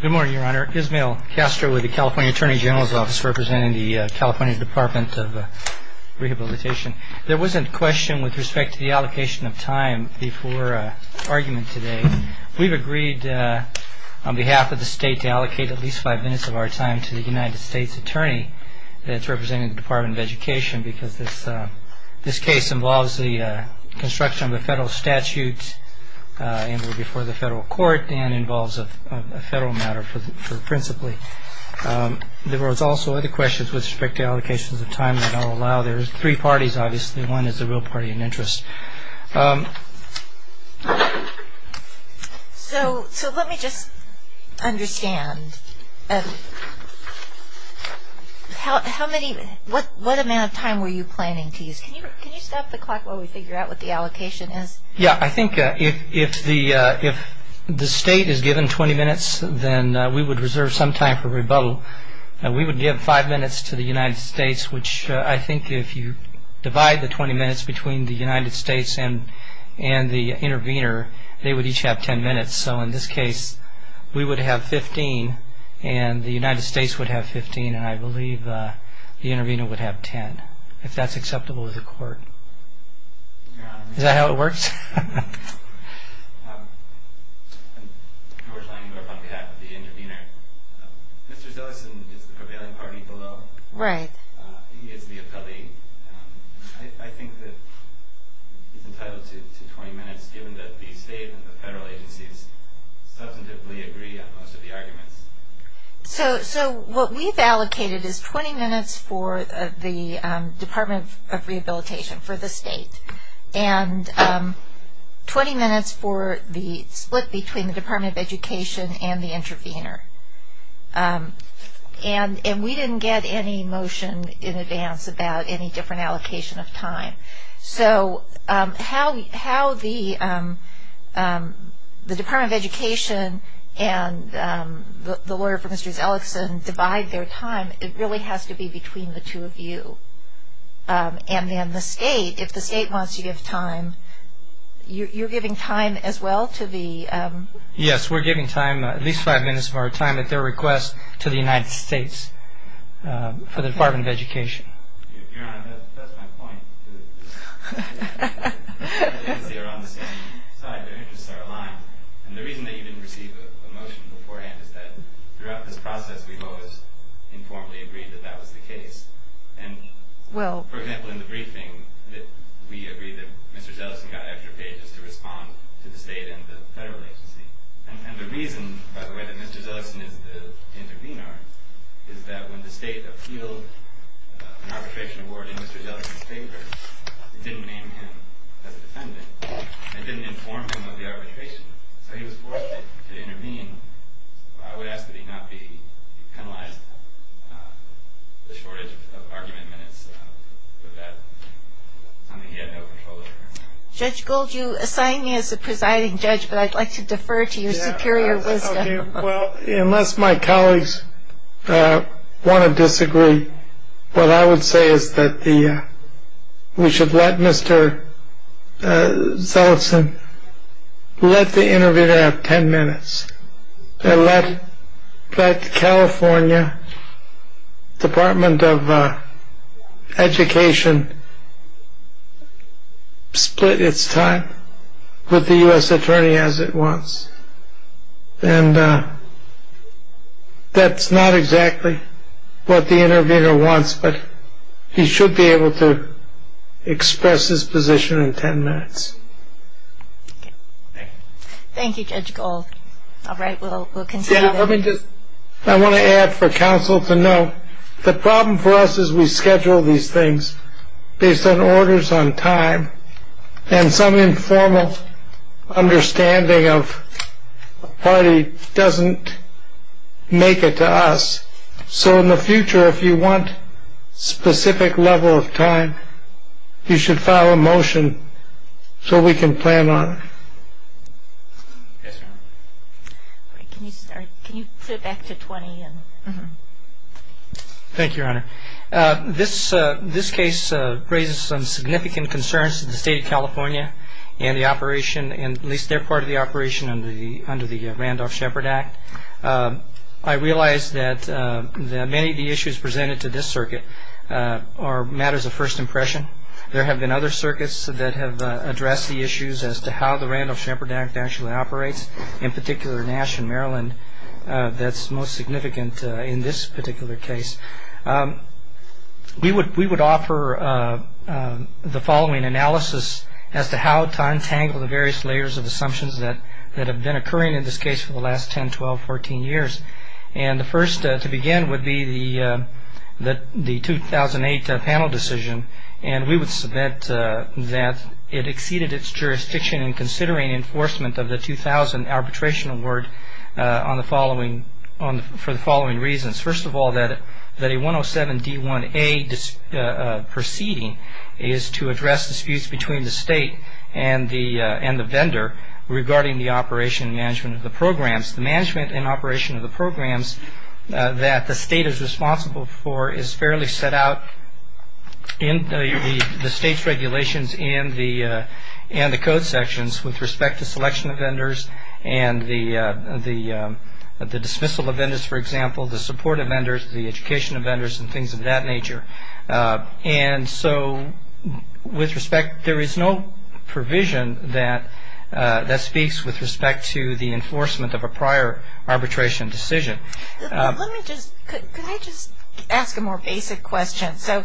Good morning, Your Honor. Ismael Castro with the California Attorney General's Office representing the California Department of Rehabilitation. There was a question with respect to the allocation of time before argument today. We've agreed on behalf of the state to allocate at least five minutes of our time to the United States Attorney that's representing the Department of Education because this case involves the construction of a federal statute before the federal court and involves a federal matter principally. There were also other questions with respect to allocations of time that I'll allow. There are three parties, obviously. One is the real party in interest. So let me just understand. What amount of time were you planning to use? Can you stop the clock while we figure out what the allocation is? Yeah, I think if the state is given 20 minutes, then we would reserve some time for rebuttal. We would give five minutes to the United States, which I think if you divide the 20 minutes between the United States and the intervener, they would each have 10 minutes. So in this case, we would have 15 and the United States would have 15 and I believe the intervener would have 10, if that's acceptable with the court. Is that how it works? I'm George Langendorf on behalf of the intervener. Mr. Zillesen is the prevailing party below. He is the appellee. I think that he's entitled to 20 minutes given that the state and the federal agencies substantively agree on most of the arguments. So what we've allocated is 20 minutes for the Department of Rehabilitation for the state and 20 minutes for the split between the Department of Education and the intervener. And we didn't get any motion in advance about any different allocation of time. So how the Department of Education and the lawyer for Mr. Zillesen divide their time, it really has to be between the two of you. And then the state, if the state wants to give time, you're giving time as well to the... Yes, we're giving time, at least five minutes of our time at their request to the United States for the Department of Education. Your Honor, that's my point. The federal agencies are on the same side. Their interests are aligned. And the reason that you didn't receive a motion beforehand is that throughout this process, we've always informally agreed that that was the case. And, for example, in the briefing, we agreed that Mr. Zillesen got extra pages to respond to the state and the federal agency. And the reason, by the way, that Mr. Zillesen is the intervener is that when the state appealed an arbitration award in Mr. Zillesen's favor, it didn't name him as a defendant. It didn't inform him of the arbitration. So he was forced to intervene. I would ask that he not be penalized for the shortage of argument minutes for that. He had no control over it. Judge Gold, you assigned me as the presiding judge, but I'd like to defer to your superior wisdom. Well, unless my colleagues want to disagree, what I would say is that we should let Mr. Zillesen, let the intervener have ten minutes. Let California Department of Education split its time with the U.S. attorney as it wants. And that's not exactly what the intervener wants, but he should be able to express his position in ten minutes. Thank you, Judge Gold. All right, we'll continue. I want to add for counsel to know the problem for us is we schedule these things based on orders on time. And some informal understanding of a party doesn't make it to us. So in the future, if you want specific level of time, you should file a motion so we can plan on. Can you sit back to 20? Thank you, Your Honor. This this case raises some significant concerns to the state of California and the operation. And at least they're part of the operation under the under the Randolph Shepard Act. I realize that many of the issues presented to this circuit are matters of first impression. There have been other circuits that have addressed the issues as to how the Randolph Shepard Act actually operates, in particular, Nash and Maryland. That's most significant in this particular case. We would we would offer the following analysis as to how to untangle the various layers of assumptions that have been occurring in this case for the last 10, 12, 14 years. And the first to begin would be the that the 2008 panel decision. And we would submit that it exceeded its jurisdiction in considering enforcement of the 2000 arbitration award on the following on for the following reasons. First of all, that that a 107 D1A proceeding is to address disputes between the state and the and the vendor regarding the operation and management of the programs, the management and operation of the programs that the state is responsible for is fairly set out in the state's regulations and the and the code sections with respect to selection of vendors and the the dismissal of vendors. For example, the support of vendors, the education of vendors and things of that nature. And so with respect, there is no provision that that speaks with respect to the enforcement of a prior arbitration decision. Let me just ask a more basic question. So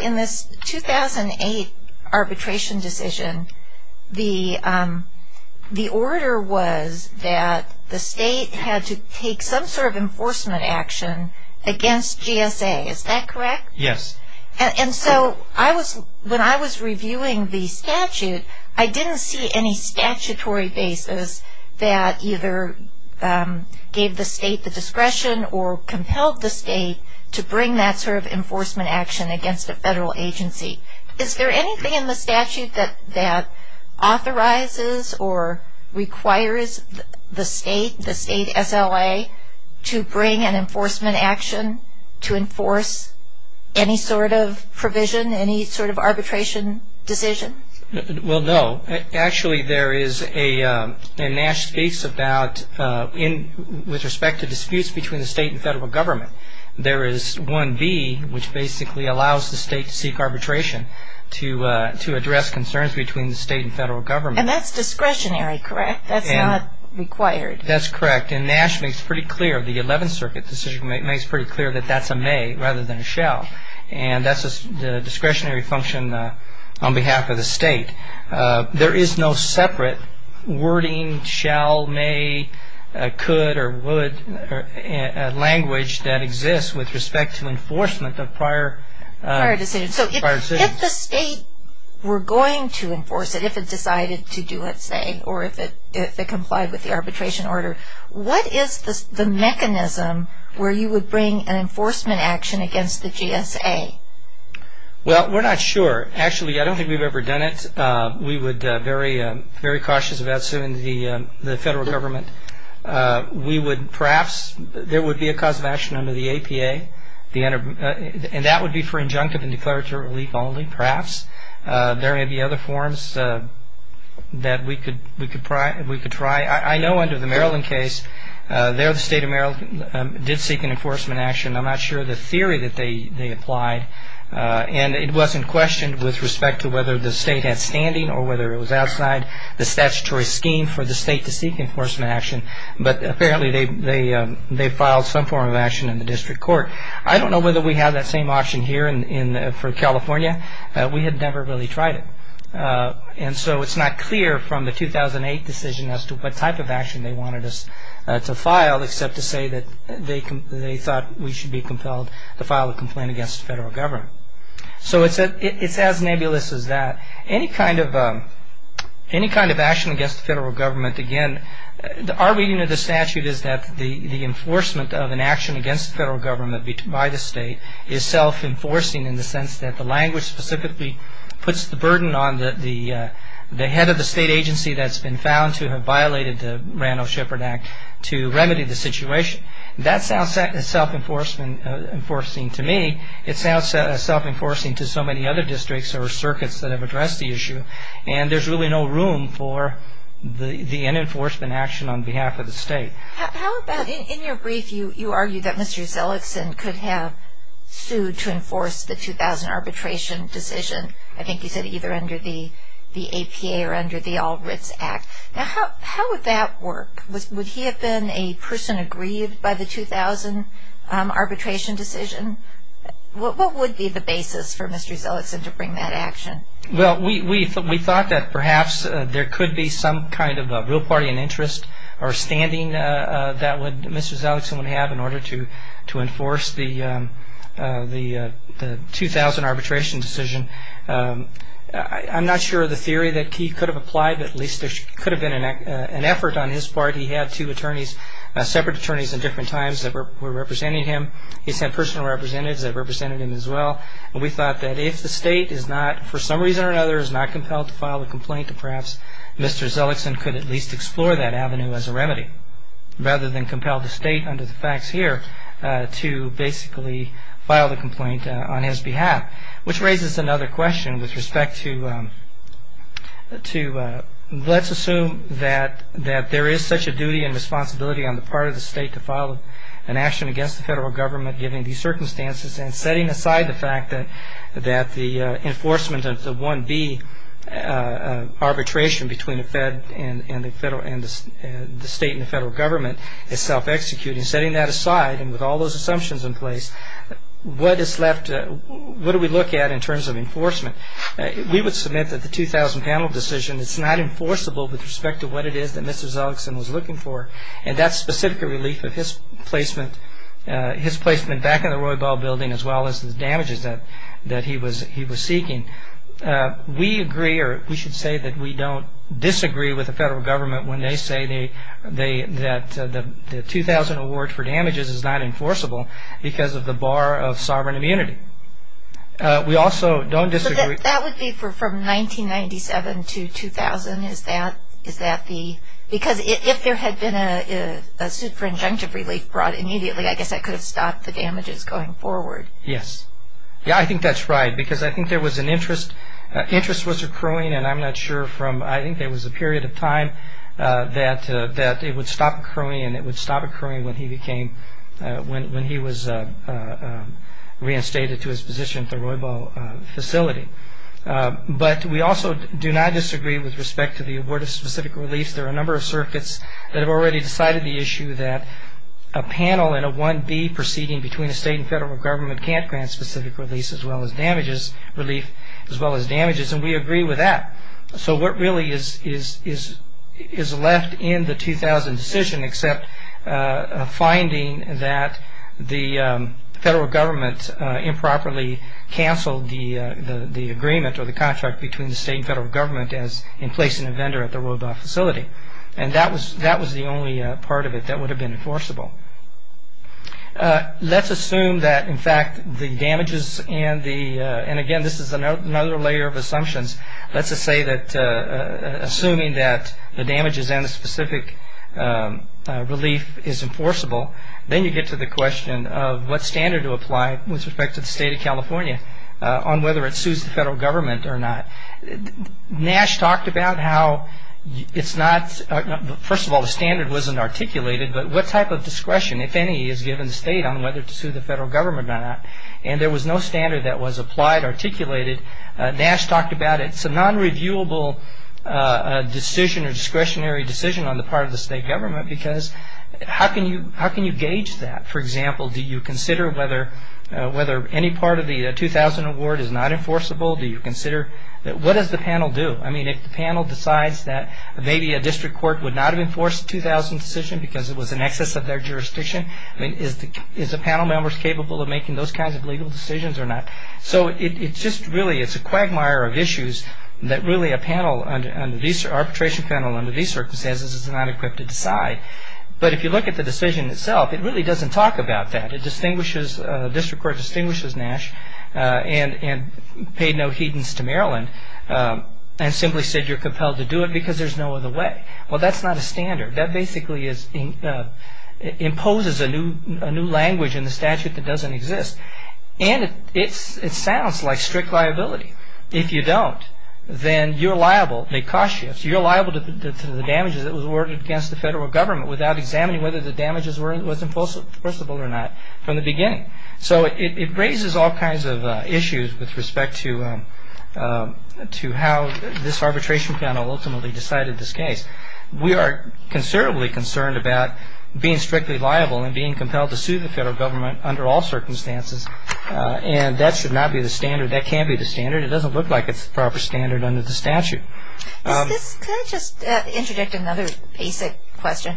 in this 2008 arbitration decision, the the order was that the state had to take some sort of enforcement action against GSA. Is that correct? Yes. And so I was when I was reviewing the statute, I didn't see any statutory basis that either gave the state the discretion or compelled the state to bring that sort of enforcement action against a federal agency. Is there anything in the statute that that authorizes or requires the state, the state SLA, to bring an enforcement action to enforce any sort of provision, any sort of arbitration decision? Well, no. Actually, there is a Nash speaks about in with respect to disputes between the state and federal government. There is one B, which basically allows the state to seek arbitration to to address concerns between the state and federal government. And that's discretionary, correct? That's not required. That's correct. And Nash makes pretty clear the 11th Circuit decision makes pretty clear that that's a may rather than a shall. And that's the discretionary function on behalf of the state. There is no separate wording, shall, may, could or would language that exists with respect to enforcement of prior decisions. So if the state were going to enforce it, if it decided to do it, say, or if it complied with the arbitration order, what is the mechanism where you would bring an enforcement action against the GSA? Well, we're not sure. Actually, I don't think we've ever done it. We would be very cautious about suing the federal government. We would perhaps, there would be a cause of action under the APA, and that would be for injunctive and declaratory relief only, perhaps. There may be other forms that we could try. I know under the Maryland case, there the state of Maryland did seek an enforcement action. I'm not sure of the theory that they applied. And it wasn't questioned with respect to whether the state had standing or whether it was outside the statutory scheme for the state to seek enforcement action. But apparently they filed some form of action in the district court. I don't know whether we have that same option here for California. We have never really tried it. And so it's not clear from the 2008 decision as to what type of action they wanted us to file, except to say that they thought we should be compelled to file a complaint against the federal government. So it's as nebulous as that. Any kind of action against the federal government, again, our reading of the statute is that the enforcement of an action against the federal government by the state is self-enforcing in the sense that the language specifically puts the burden on the head of the state agency that's been found to have violated the Rano-Shepard Act to remedy the situation. That sounds self-enforcing to me. It sounds self-enforcing to so many other districts or circuits that have addressed the issue. And there's really no room for the enforcement action on behalf of the state. In your brief, you argue that Mr. Zellickson could have sued to enforce the 2000 arbitration decision, I think you said either under the APA or under the All Writs Act. Now, how would that work? Would he have been a person aggrieved by the 2000 arbitration decision? What would be the basis for Mr. Zellickson to bring that action? Well, we thought that perhaps there could be some kind of real party in interest or standing that Mr. Zellickson would have in order to enforce the 2000 arbitration decision. I'm not sure of the theory that he could have applied, but at least there could have been an effort on his part. He had two attorneys, separate attorneys at different times that were representing him. He sent personal representatives that represented him as well. We thought that if the state is not, for some reason or another, is not compelled to file a complaint, perhaps Mr. Zellickson could at least explore that avenue as a remedy, rather than compel the state under the facts here to basically file the complaint on his behalf. Which raises another question with respect to, let's assume that there is such a duty and responsibility on the part of the state to file an action against the federal government given these circumstances and setting aside the fact that the enforcement of the 1B arbitration between the state and the federal government is self-executing, setting that aside and with all those assumptions in place, what do we look at in terms of enforcement? We would submit that the 2000 panel decision is not enforceable with respect to what it is that Mr. Zellickson was looking for. And that specific relief of his placement back in the Roybal building as well as the damages that he was seeking, we agree or we should say that we don't disagree with the federal government when they say that the 2000 award for damages is not enforceable because of the bar of sovereign immunity. We also don't disagree. That would be from 1997 to 2000, is that the, because if there had been a super injunctive relief brought immediately, I guess that could have stopped the damages going forward. Yes. Yeah, I think that's right because I think there was an interest, interest was accruing, and I'm not sure from, I think there was a period of time that it would stop accruing and it would stop accruing when he became, when he was reinstated to his position at the Roybal facility. But we also do not disagree with respect to the award of specific relief. There are a number of circuits that have already decided the issue that a panel in a 1B proceeding between a state and federal government can't grant specific relief as well as damages, and we agree with that. So what really is left in the 2000 decision except finding that the federal government improperly canceled the agreement or the contract between the state and federal government as in placing a vendor at the Roybal facility, and that was the only part of it that would have been enforceable. Let's assume that in fact the damages and the, and again this is another layer of assumptions, let's just say that assuming that the damages and the specific relief is enforceable, then you get to the question of what standard to apply with respect to the state of California on whether it sues the federal government or not. Nash talked about how it's not, first of all the standard wasn't articulated, but what type of discretion if any is given the state on whether to sue the federal government or not, and there was no standard that was applied, articulated. Nash talked about it's a non-reviewable decision or discretionary decision on the part of the state government because how can you gauge that? For example, do you consider whether any part of the 2000 award is not enforceable? Do you consider, what does the panel do? I mean if the panel decides that maybe a district court would not have enforced the 2000 decision because it was in excess of their jurisdiction, I mean is the panel members capable of making those kinds of legal decisions or not? So it's just really, it's a quagmire of issues that really a panel, an arbitration panel under these circumstances is not equipped to decide. But if you look at the decision itself, it really doesn't talk about that. It distinguishes, a district court distinguishes Nash and paid no heedance to Maryland and simply said you're compelled to do it because there's no other way. Well that's not a standard. That basically imposes a new language in the statute that doesn't exist. And it sounds like strict liability. If you don't, then you're liable. The cost shifts. You're liable to the damages that were awarded against the federal government without examining whether the damages were enforceable or not from the beginning. So it raises all kinds of issues with respect to how this arbitration panel ultimately decided this case. We are considerably concerned about being strictly liable and being compelled to sue the federal government under all circumstances. And that should not be the standard. That can't be the standard. It doesn't look like it's the proper standard under the statute. Can I just interject another basic question?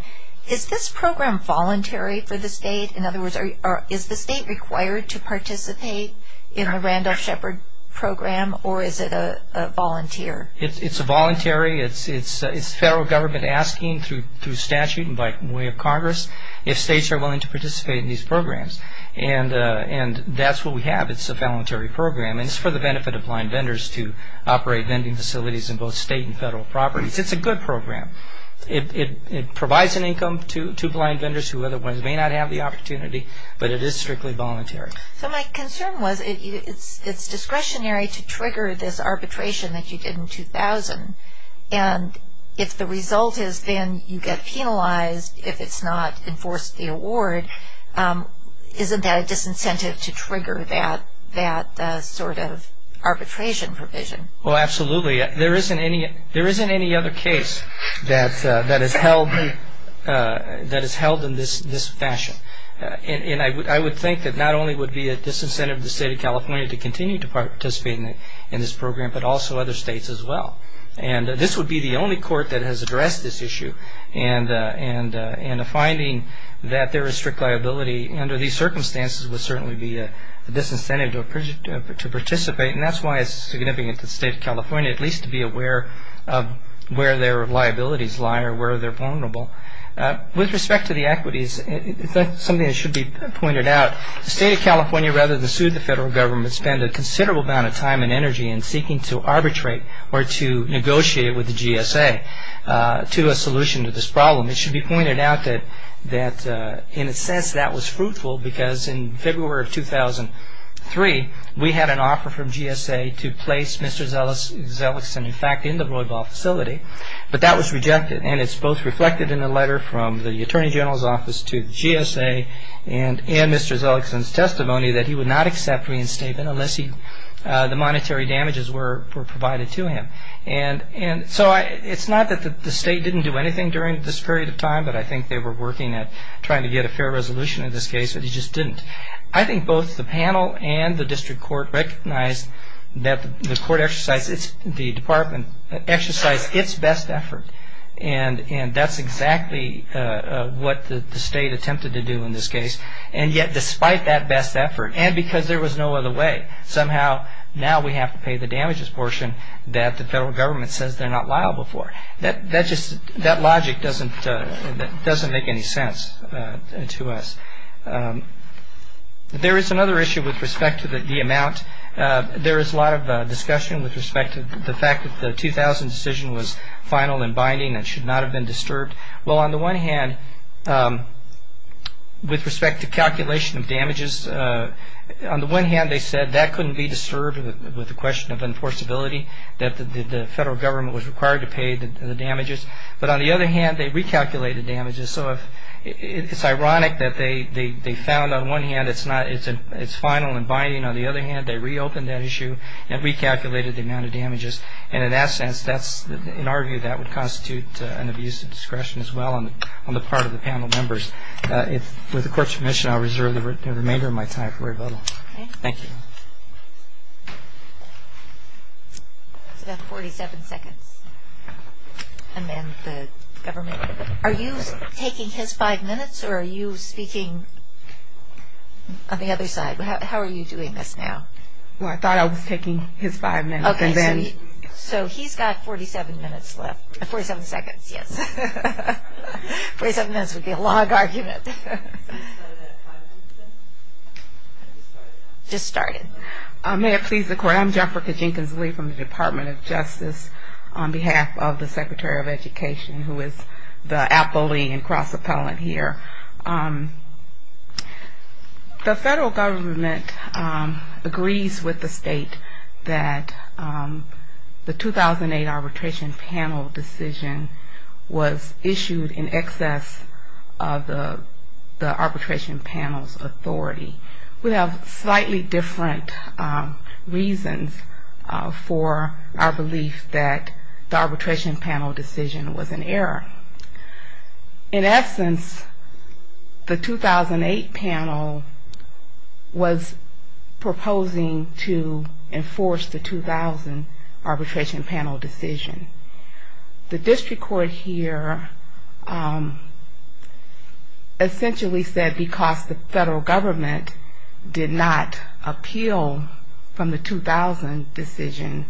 Is this program voluntary for the state? In other words, is the state required to participate in the Randolph Shepard program or is it a volunteer? It's a voluntary. It's federal government asking through statute and by way of Congress if states are willing to participate in these programs. And that's what we have. It's a voluntary program. And it's for the benefit of blind vendors to operate vending facilities in both state and federal properties. It's a good program. It provides an income to blind vendors who otherwise may not have the opportunity, but it is strictly voluntary. So my concern was it's discretionary to trigger this arbitration that you did in 2000. And if the result is then you get penalized if it's not enforced the award, isn't that a disincentive to trigger that sort of arbitration provision? Well, absolutely. There isn't any other case that is held in this fashion. And I would think that not only would it be a disincentive to the state of California to continue to participate in this program, but also other states as well. And this would be the only court that has addressed this issue. And the finding that there is strict liability under these circumstances would certainly be a disincentive to participate, and that's why it's significant to the state of California at least to be aware of where their liabilities lie or where they're vulnerable. With respect to the equities, it's something that should be pointed out. The state of California, rather than sue the federal government, spent a considerable amount of time and energy in seeking to arbitrate or to negotiate with the GSA to a solution to this problem. It should be pointed out that in a sense that was fruitful because in February of 2003 we had an offer from GSA to place Mr. Zelikson, in fact, in the Roybal facility, but that was rejected. And it's both reflected in the letter from the Attorney General's Office to GSA and Mr. Zelikson's testimony that he would not accept reinstatement unless the monetary damages were provided to him. And so it's not that the state didn't do anything during this period of time, but I think they were working at trying to get a fair resolution in this case, but he just didn't. I think both the panel and the district court recognized that the department exercised its best effort, and that's exactly what the state attempted to do in this case. And yet despite that best effort, and because there was no other way, somehow now we have to pay the damages portion that the federal government says they're not liable for. That logic doesn't make any sense to us. There is another issue with respect to the amount. There is a lot of discussion with respect to the fact that the 2000 decision was final and binding and should not have been disturbed. Well, on the one hand, with respect to calculation of damages, on the one hand they said that couldn't be disturbed with the question of enforceability, that the federal government was required to pay the damages. But on the other hand, they recalculated damages. So it's ironic that they found on one hand it's final and binding. On the other hand, they reopened that issue and recalculated the amount of damages. And in that sense, in our view, that would constitute an abuse of discretion as well on the part of the panel members. With the court's permission, I'll reserve the remainder of my time for rebuttal. Thank you. That's about 47 seconds. And then the government. Are you taking his five minutes or are you speaking on the other side? How are you doing this now? Well, I thought I was taking his five minutes. Okay. So he's got 47 minutes left. 47 seconds, yes. 47 minutes would be a long argument. Just started. May it please the court? I'm Jennifer Kajinkas-Lee from the Department of Justice on behalf of the Secretary of Education, who is the appellee and cross-appellant here. The federal government agrees with the state that the 2008 arbitration panel decision was issued in excess of the arbitration panel's authority. We have slightly different reasons for our belief that the arbitration panel decision was an error. In essence, the 2008 panel was proposing to enforce the 2000 arbitration panel decision. The district court here essentially said because the federal government did not appeal from the 2000 decision,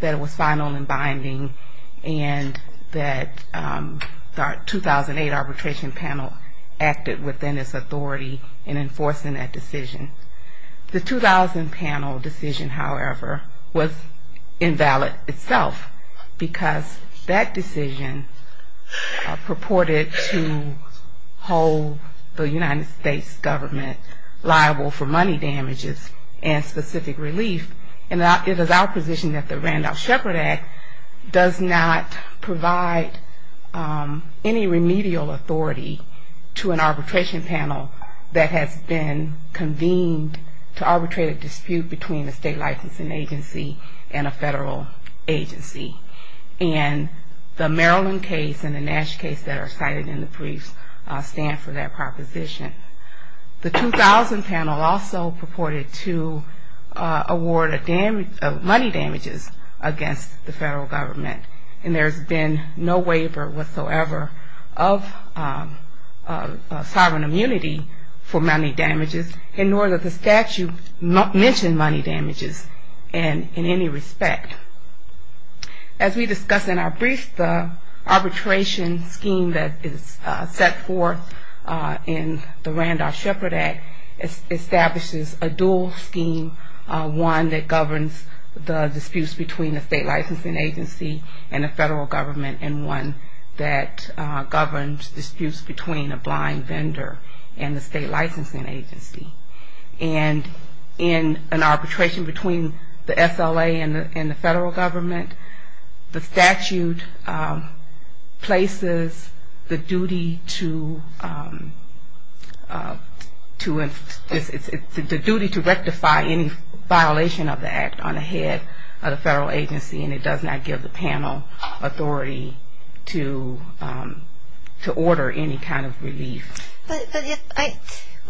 that it was final and binding and that the 2008 arbitration panel acted within its authority in enforcing that decision. The 2000 panel decision, however, was invalid itself because that decision purported to hold the United States government liable for money damages and specific relief, and it is our position that the Randolph-Shepard Act does not provide any remedial authority to an arbitration panel that has been convened to arbitrate a dispute between a state licensing agency and a federal agency. And the Maryland case and the Nash case that are cited in the briefs stand for that proposition. The 2000 panel also purported to award money damages against the federal government. And there's been no waiver whatsoever of sovereign immunity for money damages, and nor does the statute mention money damages in any respect. As we discussed in our brief, the arbitration scheme that is set forth in the Randolph-Shepard Act establishes a dual scheme, one that governs the disputes between the state licensing agency and the federal government, and one that governs disputes between a blind vendor and the state licensing agency. And in an arbitration between the SLA and the federal government, the statute places the duty to rectify any violation of the act on the head of the federal agency, and it does not give the panel authority to order any kind of relief. But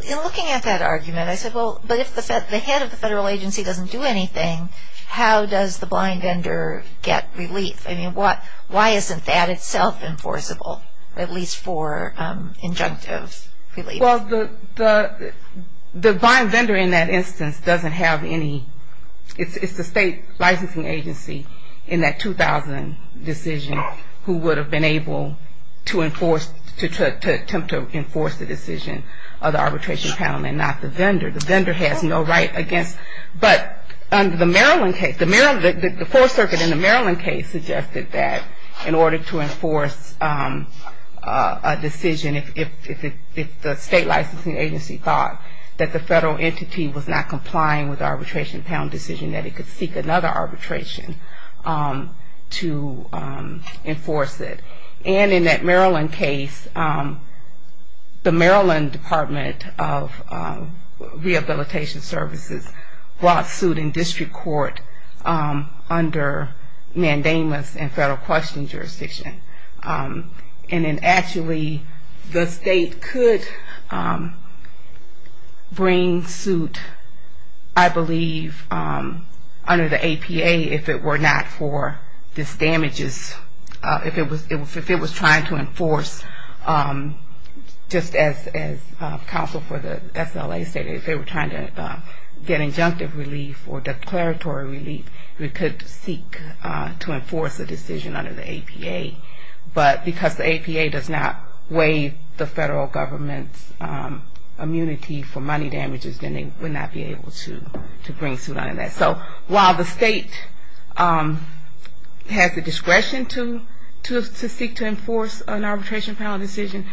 in looking at that argument, I said, well, but if the head of the federal agency doesn't do anything, how does the blind vendor get relief? I mean, why isn't that itself enforceable, at least for injunctive relief? Well, the blind vendor in that instance doesn't have any. It's the state licensing agency in that 2000 decision who would have been able to enforce, to attempt to enforce the decision of the arbitration panel and not the vendor. The vendor has no right against, but under the Maryland case, the four circuit in the Maryland case suggested that in order to enforce a decision, if the state licensing agency thought that the federal entity was not complying with the arbitration panel decision, that it could seek another arbitration to enforce it. And in that Maryland case, the Maryland Department of Rehabilitation Services brought suit in district court under mandamus and federal question jurisdiction, and then actually the state could bring suit, I believe, under the APA if it were not for this damages, if it was not for this damages. If it was trying to enforce, just as counsel for the SLA stated, if they were trying to get injunctive relief or declaratory relief, we could seek to enforce a decision under the APA, but because the APA does not waive the federal government's immunity for money damages, then they would not be able to bring suit under that. So while the state has the discretion to seek to enforce an arbitration panel decision,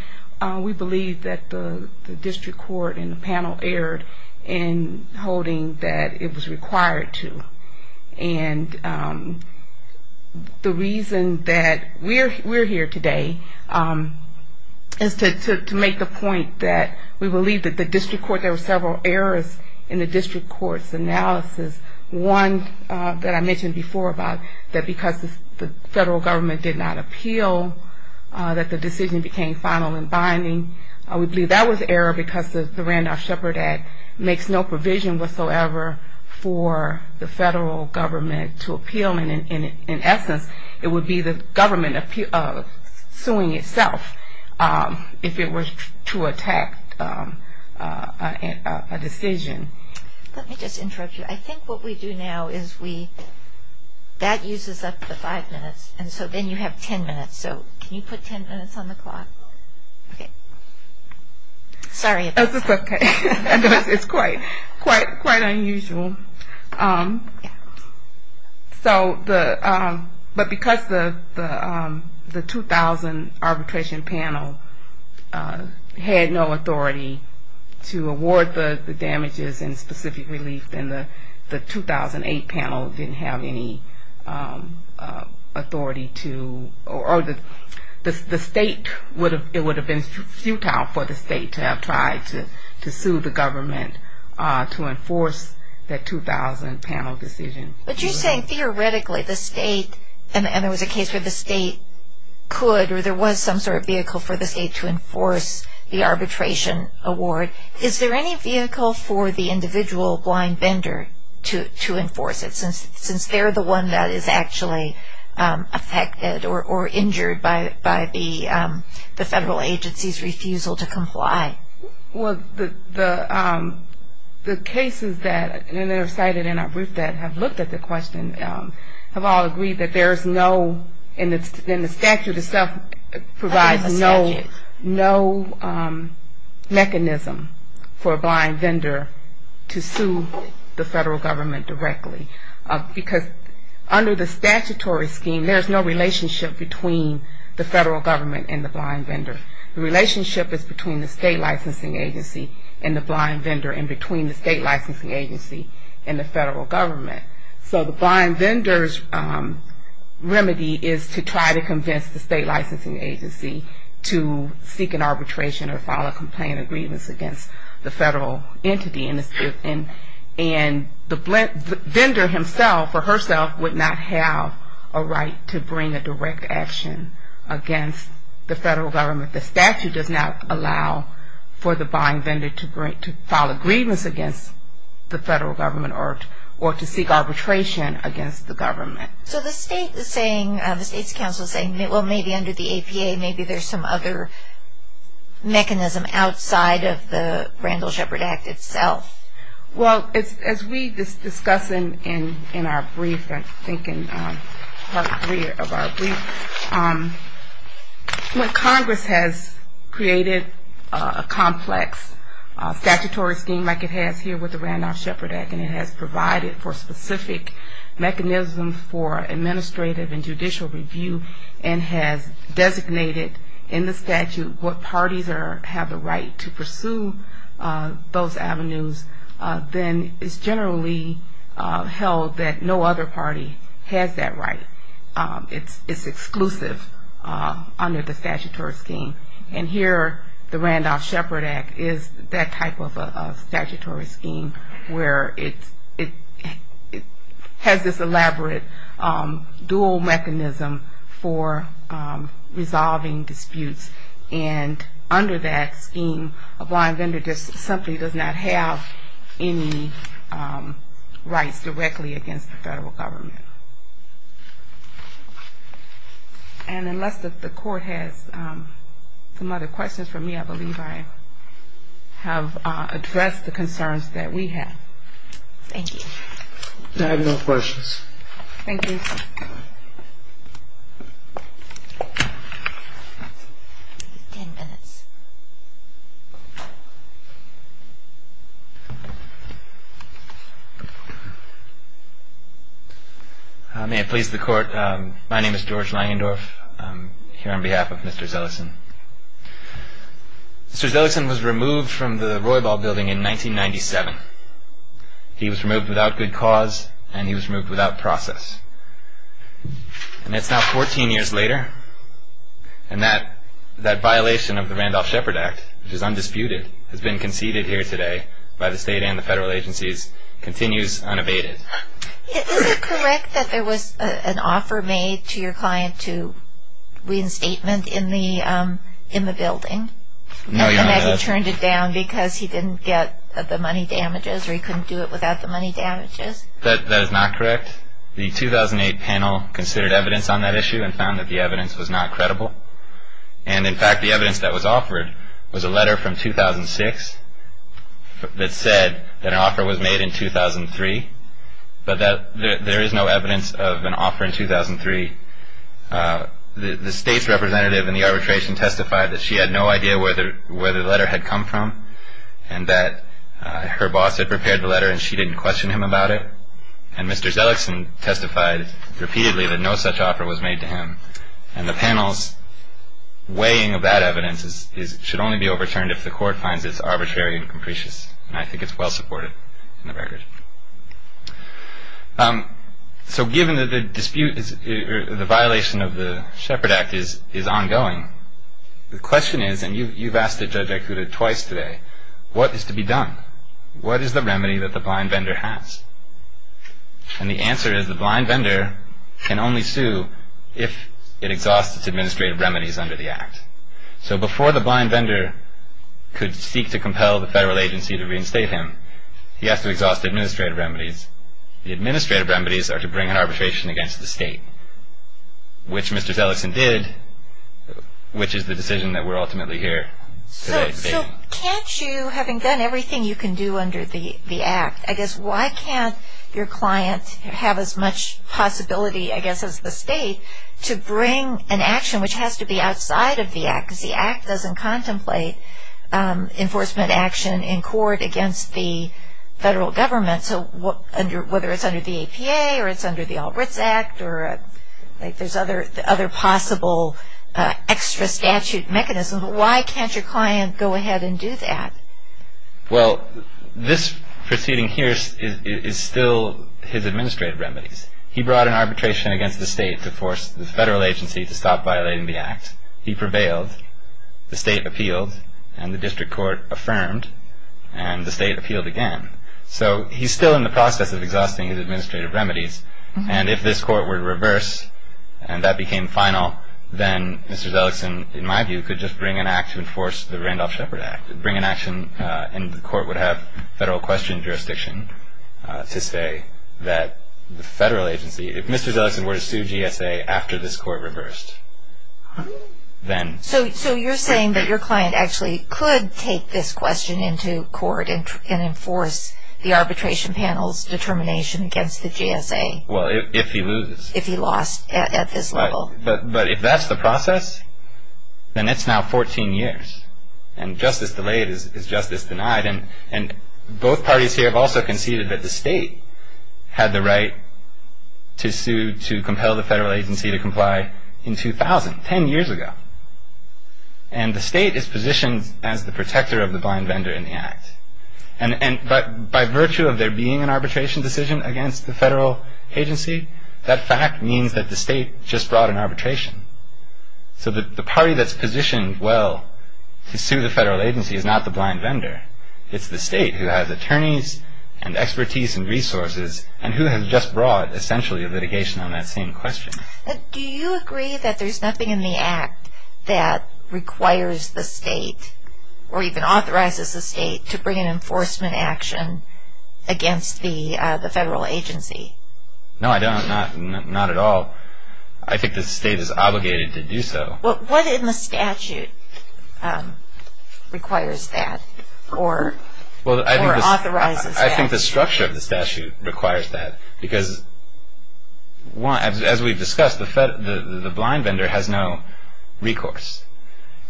we believe that the district court and the panel erred in holding that it was required to. And the reason that we're here today is to make the point that we believe that the district court, there were several errors in the district court's decision. One that I mentioned before about that because the federal government did not appeal, that the decision became final and binding. We believe that was error because the Randolph-Shepard Act makes no provision whatsoever for the federal government to appeal. And in essence, it would be the government suing itself if it were to attack a decision. Let me just interrupt you. I think what we do now is we, that uses up the five minutes, and so then you have ten minutes. So can you put ten minutes on the clock? Okay. Sorry. It's okay. It's quite unusual. So the, but because the 2000 arbitration panel had no authority to award the damages, it would be the district court's decision. And if there was any specific relief, then the 2008 panel didn't have any authority to, or the state would have, it would have been futile for the state to have tried to sue the government to enforce that 2000 panel decision. But you're saying theoretically the state, and there was a case where the state could, or there was some sort of vehicle for the state to enforce the arbitration award, is there any vehicle for the individual to appeal? Is there any vehicle for the individual blind vendor to enforce it, since they're the one that is actually affected or injured by the federal agency's refusal to comply? Well, the cases that are cited in our brief that have looked at the question have all agreed that there's no, and the statute itself provides no mechanism for a blind vendor to appeal. To sue the federal government directly. Because under the statutory scheme, there's no relationship between the federal government and the blind vendor. The relationship is between the state licensing agency and the blind vendor, and between the state licensing agency and the federal government. So the blind vendor's remedy is to try to convince the state licensing agency to seek an arbitration or file a complaint of grievance against the federal entity. And it's the federal government that is the one that has the right to do that. And the vendor himself or herself would not have a right to bring a direct action against the federal government. The statute does not allow for the blind vendor to file a grievance against the federal government or to seek arbitration against the government. So the state is saying, the state's counsel is saying, well, maybe under the APA, maybe there's some other mechanism outside of the Randall Shepard Act itself. Well, as we discuss in our brief, I think in part three of our brief, when Congress has created a complex statutory scheme like it has here with the Randall Shepard Act, and it has provided for specific mechanisms for administrative and judicial review, and has designated in the statute what parties have the right to file a complaint, then it's generally held that no other party has that right. It's exclusive under the statutory scheme. And here, the Randall Shepard Act is that type of a statutory scheme where it has this elaborate dual mechanism for resolving disputes. And under that scheme, a blind vendor simply does not have any rights directly against the federal government. And unless the court has some other questions for me, I believe I have addressed the concerns that we have. Thank you. I have no questions. Thank you. Ten minutes. May it please the Court. My name is George Langendorf. I'm here on behalf of Mr. Zellison. Mr. Zellison was removed from the Roybal Building in 1997. He was removed without good cause, and he was removed without process. And it's now 14 years later, and that violation of the Randall Shepard Act is undisputed, has been conceded here today by the state and the federal agencies, continues unabated. Is it correct that there was an offer made to your client to reinstatement in the building? No, Your Honor. And that he turned it down because he didn't get the money damages, or he couldn't do it without the money damages? That is not correct. The 2008 panel considered evidence on that issue and found that the evidence was not credible. And, in fact, the evidence Thank you. Thank you. Thank you. Thank you. Thank you. Thank you. Thank you. Thank you. Weighing of that evidence should only be overturned if the court finds it arbitrary and capricious. And I think it's well supported in the record. So given that the dispute or the violation of the Shepard Act is ongoing, the question is, and you've asked Judge Ikuda twice today, what is to be done? What is the remedy that the blind vendor has? And the answer is the blind vendor can only sue if it exhausts its administrative remedies under the Act. So before the blind vendor could seek to compel the federal agency to reinstate him, he has to exhaust administrative remedies. The administrative remedies are to bring an arbitration against the state, which Mr. Tillerson did, which is the decision that we're ultimately here today debating. So can't you, having done everything you can do under the Act, I guess why can't your client have as much possibility, I guess as the state, to bring an action which has to be outside of the Act? Because the Act doesn't contemplate enforcement action in court against the federal government. So whether it's under the APA or it's under the Alberts Act, or there's other possible extra statute mechanisms, why can't your client go ahead and do that? Well, this proceeding here is still his administrative remedies. He brought an arbitration against the state to force the federal agency to stop violating the Act. He prevailed. The state appealed. And the district court affirmed. And the state appealed again. So he's still in the process of exhausting his administrative remedies. And if this court were to reverse and that became final, then Mr. Zelikson, in my view, could just bring an act to enforce the Randolph-Shepard Act, bring an action and the court would have federal question jurisdiction to say that the federal agency, if Mr. Zelikson were to sue GSA after this court reversed, then... So you're saying that your client actually could take this question into court and enforce the arbitration panel's determination against the GSA. Well, if he loses. If he lost at this level. But if that's the process, then it's now 14 years. And justice delayed is justice denied. And both parties here have also conceded that the state had the right to sue, to compel the federal agency to comply in 2000, 10 years ago. And the state is positioned as the protector of the blind vendor in the Act. And by virtue of there being an arbitration decision against the federal agency, that fact means that the state just brought an arbitration. So the party that's positioned well to sue the federal agency is not the blind vendor. It's the state who has attorneys and expertise and resources and who has just brought essentially a litigation on that same question. Do you agree that there's nothing in the Act that requires the state or even authorizes the state to bring an enforcement action against the federal agency? No, I don't. Not at all. I think the state is obligated to do so. What in the statute requires that or authorizes that? I think the structure of the statute requires that. Because as we've discussed, the blind vendor has no recourse.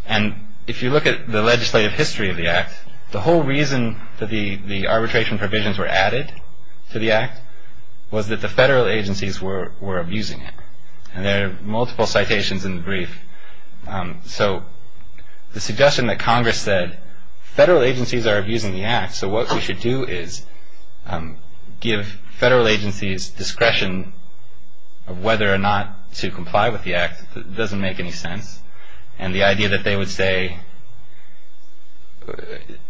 And if you look at the legislative history of the Act, the whole reason that the arbitration provisions were added to the Act was that the federal agencies were abusing it. And there are multiple citations in the brief. So the suggestion that Congress said federal agencies are abusing the Act, so what we should do is give federal agencies discretion of whether or not to comply with the Act doesn't make any sense. And the idea that they would say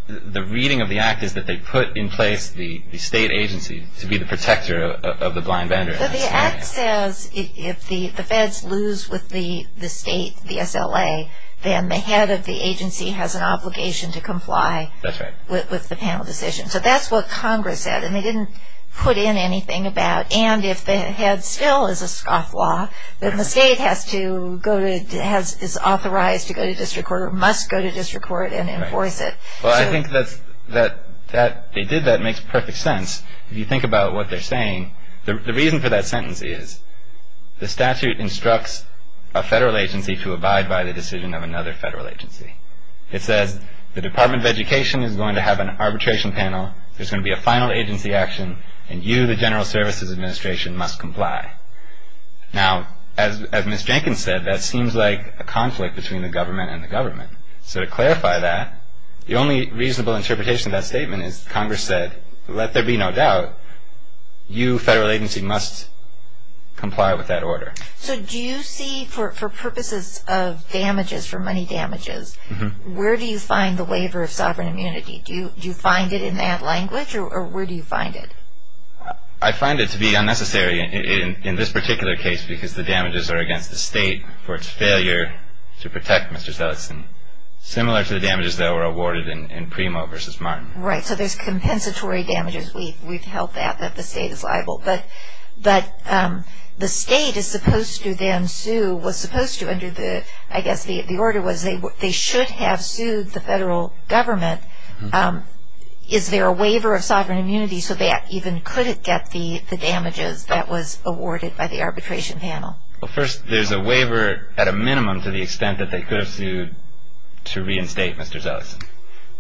the reading of the Act is that they put in place the state agency to be the protector of the blind vendor. But the Act says if the feds lose with the state, the SLA, then the head of the agency has an obligation to comply with the panel decision. That's right. So that's what Congress said, and they didn't put in anything about and if the head still is a scofflaw, then the state is authorized to go to district court or must go to district court and enforce it. Well, I think that they did that. It makes perfect sense if you think about what they're saying. The reason for that sentence is the statute instructs a federal agency to abide by the decision of another federal agency. It says the Department of Education is going to have an arbitration panel, there's going to be a final agency action, and you, the General Services Administration, must comply. Now, as Ms. Jenkins said, that seems like a conflict between the government and the government. So to clarify that, the only reasonable interpretation of that statement is Congress said, let there be no doubt, you, federal agency, must comply with that order. So do you see, for purposes of damages, for money damages, where do you find the waiver of sovereign immunity? Do you find it in that language, or where do you find it? I find it to be unnecessary in this particular case because the damages are against the state for its failure to protect Mr. Sellerson, similar to the damages that were awarded in Primo v. Martin. Right, so there's compensatory damages. We've held that, that the state is liable. But the state is supposed to then sue, was supposed to, under the, I guess the order was they should have sued the federal government. Is there a waiver of sovereign immunity so that even could it get the damages that was awarded by the arbitration panel? Well, first, there's a waiver, at a minimum, to the extent that they could have sued to reinstate Mr. Sellerson.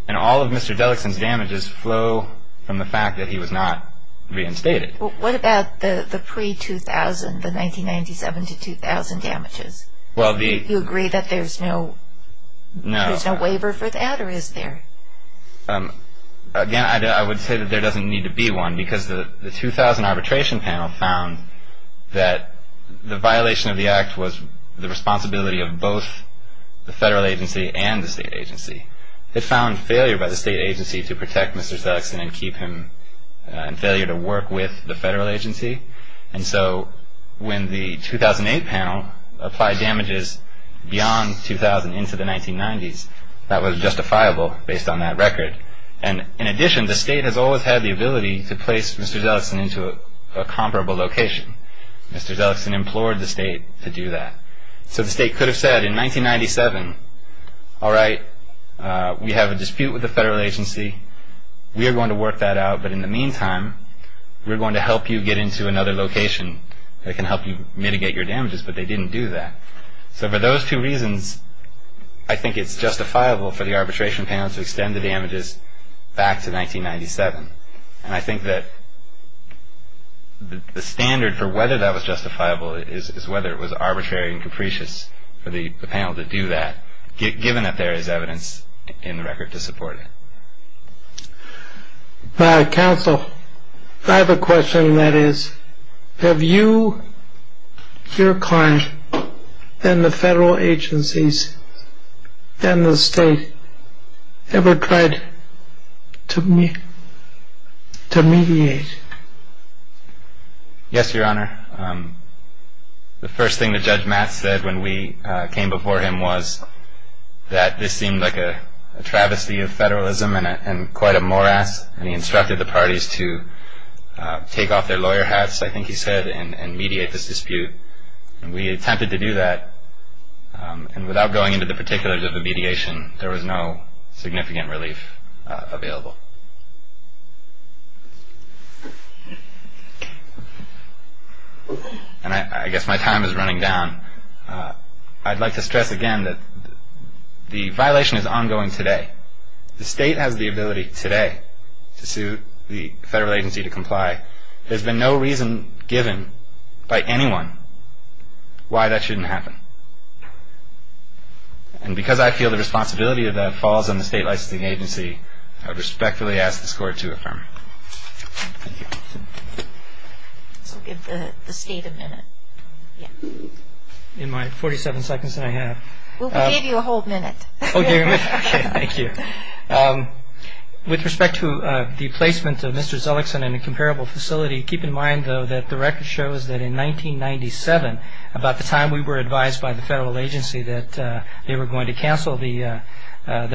And all of Mr. Dellickson's damages flow from the fact that he was not reinstated. What about the pre-2000, the 1997 to 2000 damages? Well, the Do you agree that there's no No. There's no waiver for that, or is there? Again, I would say that there doesn't need to be one because the 2000 arbitration panel found that the violation of the act was the responsibility of both the federal agency and the state agency. It found failure by the state agency to protect Mr. Sellerson and keep him in failure to work with the federal agency. And so when the 2008 panel applied damages beyond 2000 into the 1990s, that was justifiable based on that record. And in addition, the state has always had the ability to place Mr. Sellerson into a comparable location. Mr. Sellerson implored the state to do that. So the state could have said in 1997, all right, we have a dispute with the federal agency. We are going to work that out. But in the meantime, we're going to help you get into another location that can help you mitigate your damages. But they didn't do that. So for those two reasons, I think it's justifiable for the arbitration panel to extend the damages back to 1997. And I think that the standard for whether that was justifiable is whether it was arbitrary and capricious for the panel to do that, given that there is evidence in the record to support it. My counsel, I have a question, and that is, have you, your client, and the federal agencies, and the state ever tried to mediate? Yes, Your Honor. The first thing that Judge Matt said when we came before him was that this seemed like a travesty of federalism and quite a morass, and he instructed the parties to take off their lawyer hats, I think he said, and mediate this dispute. And we attempted to do that, and without going into the particulars of the mediation, there was no significant relief available. And I guess my time is running down. I'd like to stress again that the violation is ongoing today. The state has the ability today to sue the federal agency to comply. There's been no reason given by anyone why that shouldn't happen. And because I feel the responsibility of that falls on the state licensing agency, I would respectfully ask this Court to affirm. We'll give the state a minute. In my 47 seconds that I have. We'll give you a whole minute. Okay. Thank you. With respect to the placement of Mr. Zellickson in a comparable facility, keep in mind, though, that the record shows that in 1997, about the time we were advised by the federal agency that they were going to cancel the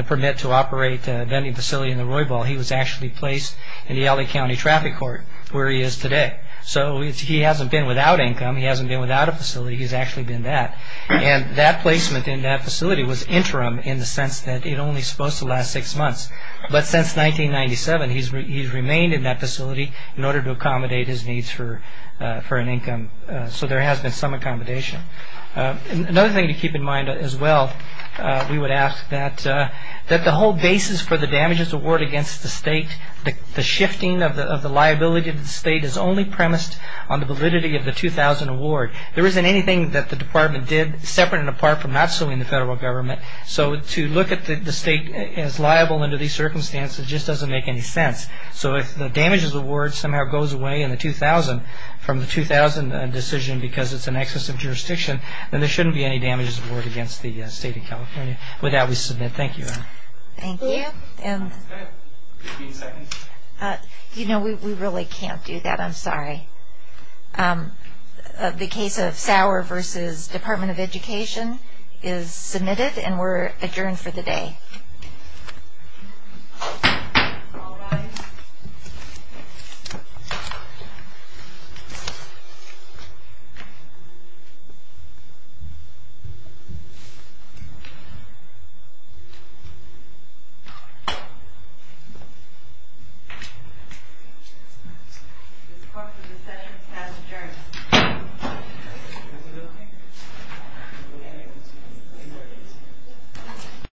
permit to operate a vending facility in the Roybal, he was actually placed in the L.A. County Traffic Court, where he is today. So he hasn't been without income, he hasn't been without a facility, he's actually been that. And that placement in that facility was interim in the sense that it only is supposed to last six months. But since 1997, he's remained in that facility in order to accommodate his needs for an income. So there has been some accommodation. Another thing to keep in mind as well, we would ask that the whole basis for the damages award against the state, the shifting of the liability of the state is only premised on the validity of the 2000 award. There isn't anything that the department did separate and apart from not suing the federal government. So to look at the state as liable under these circumstances just doesn't make any sense. So if the damages award somehow goes away in the 2000, from the 2000 decision because it's in excess of jurisdiction, then there shouldn't be any damages award against the state of California. With that, we submit. Thank you. Thank you. You know, we really can't do that. I'm sorry. The case of Sauer versus Department of Education is submitted and we're adjourned for the day. All rise.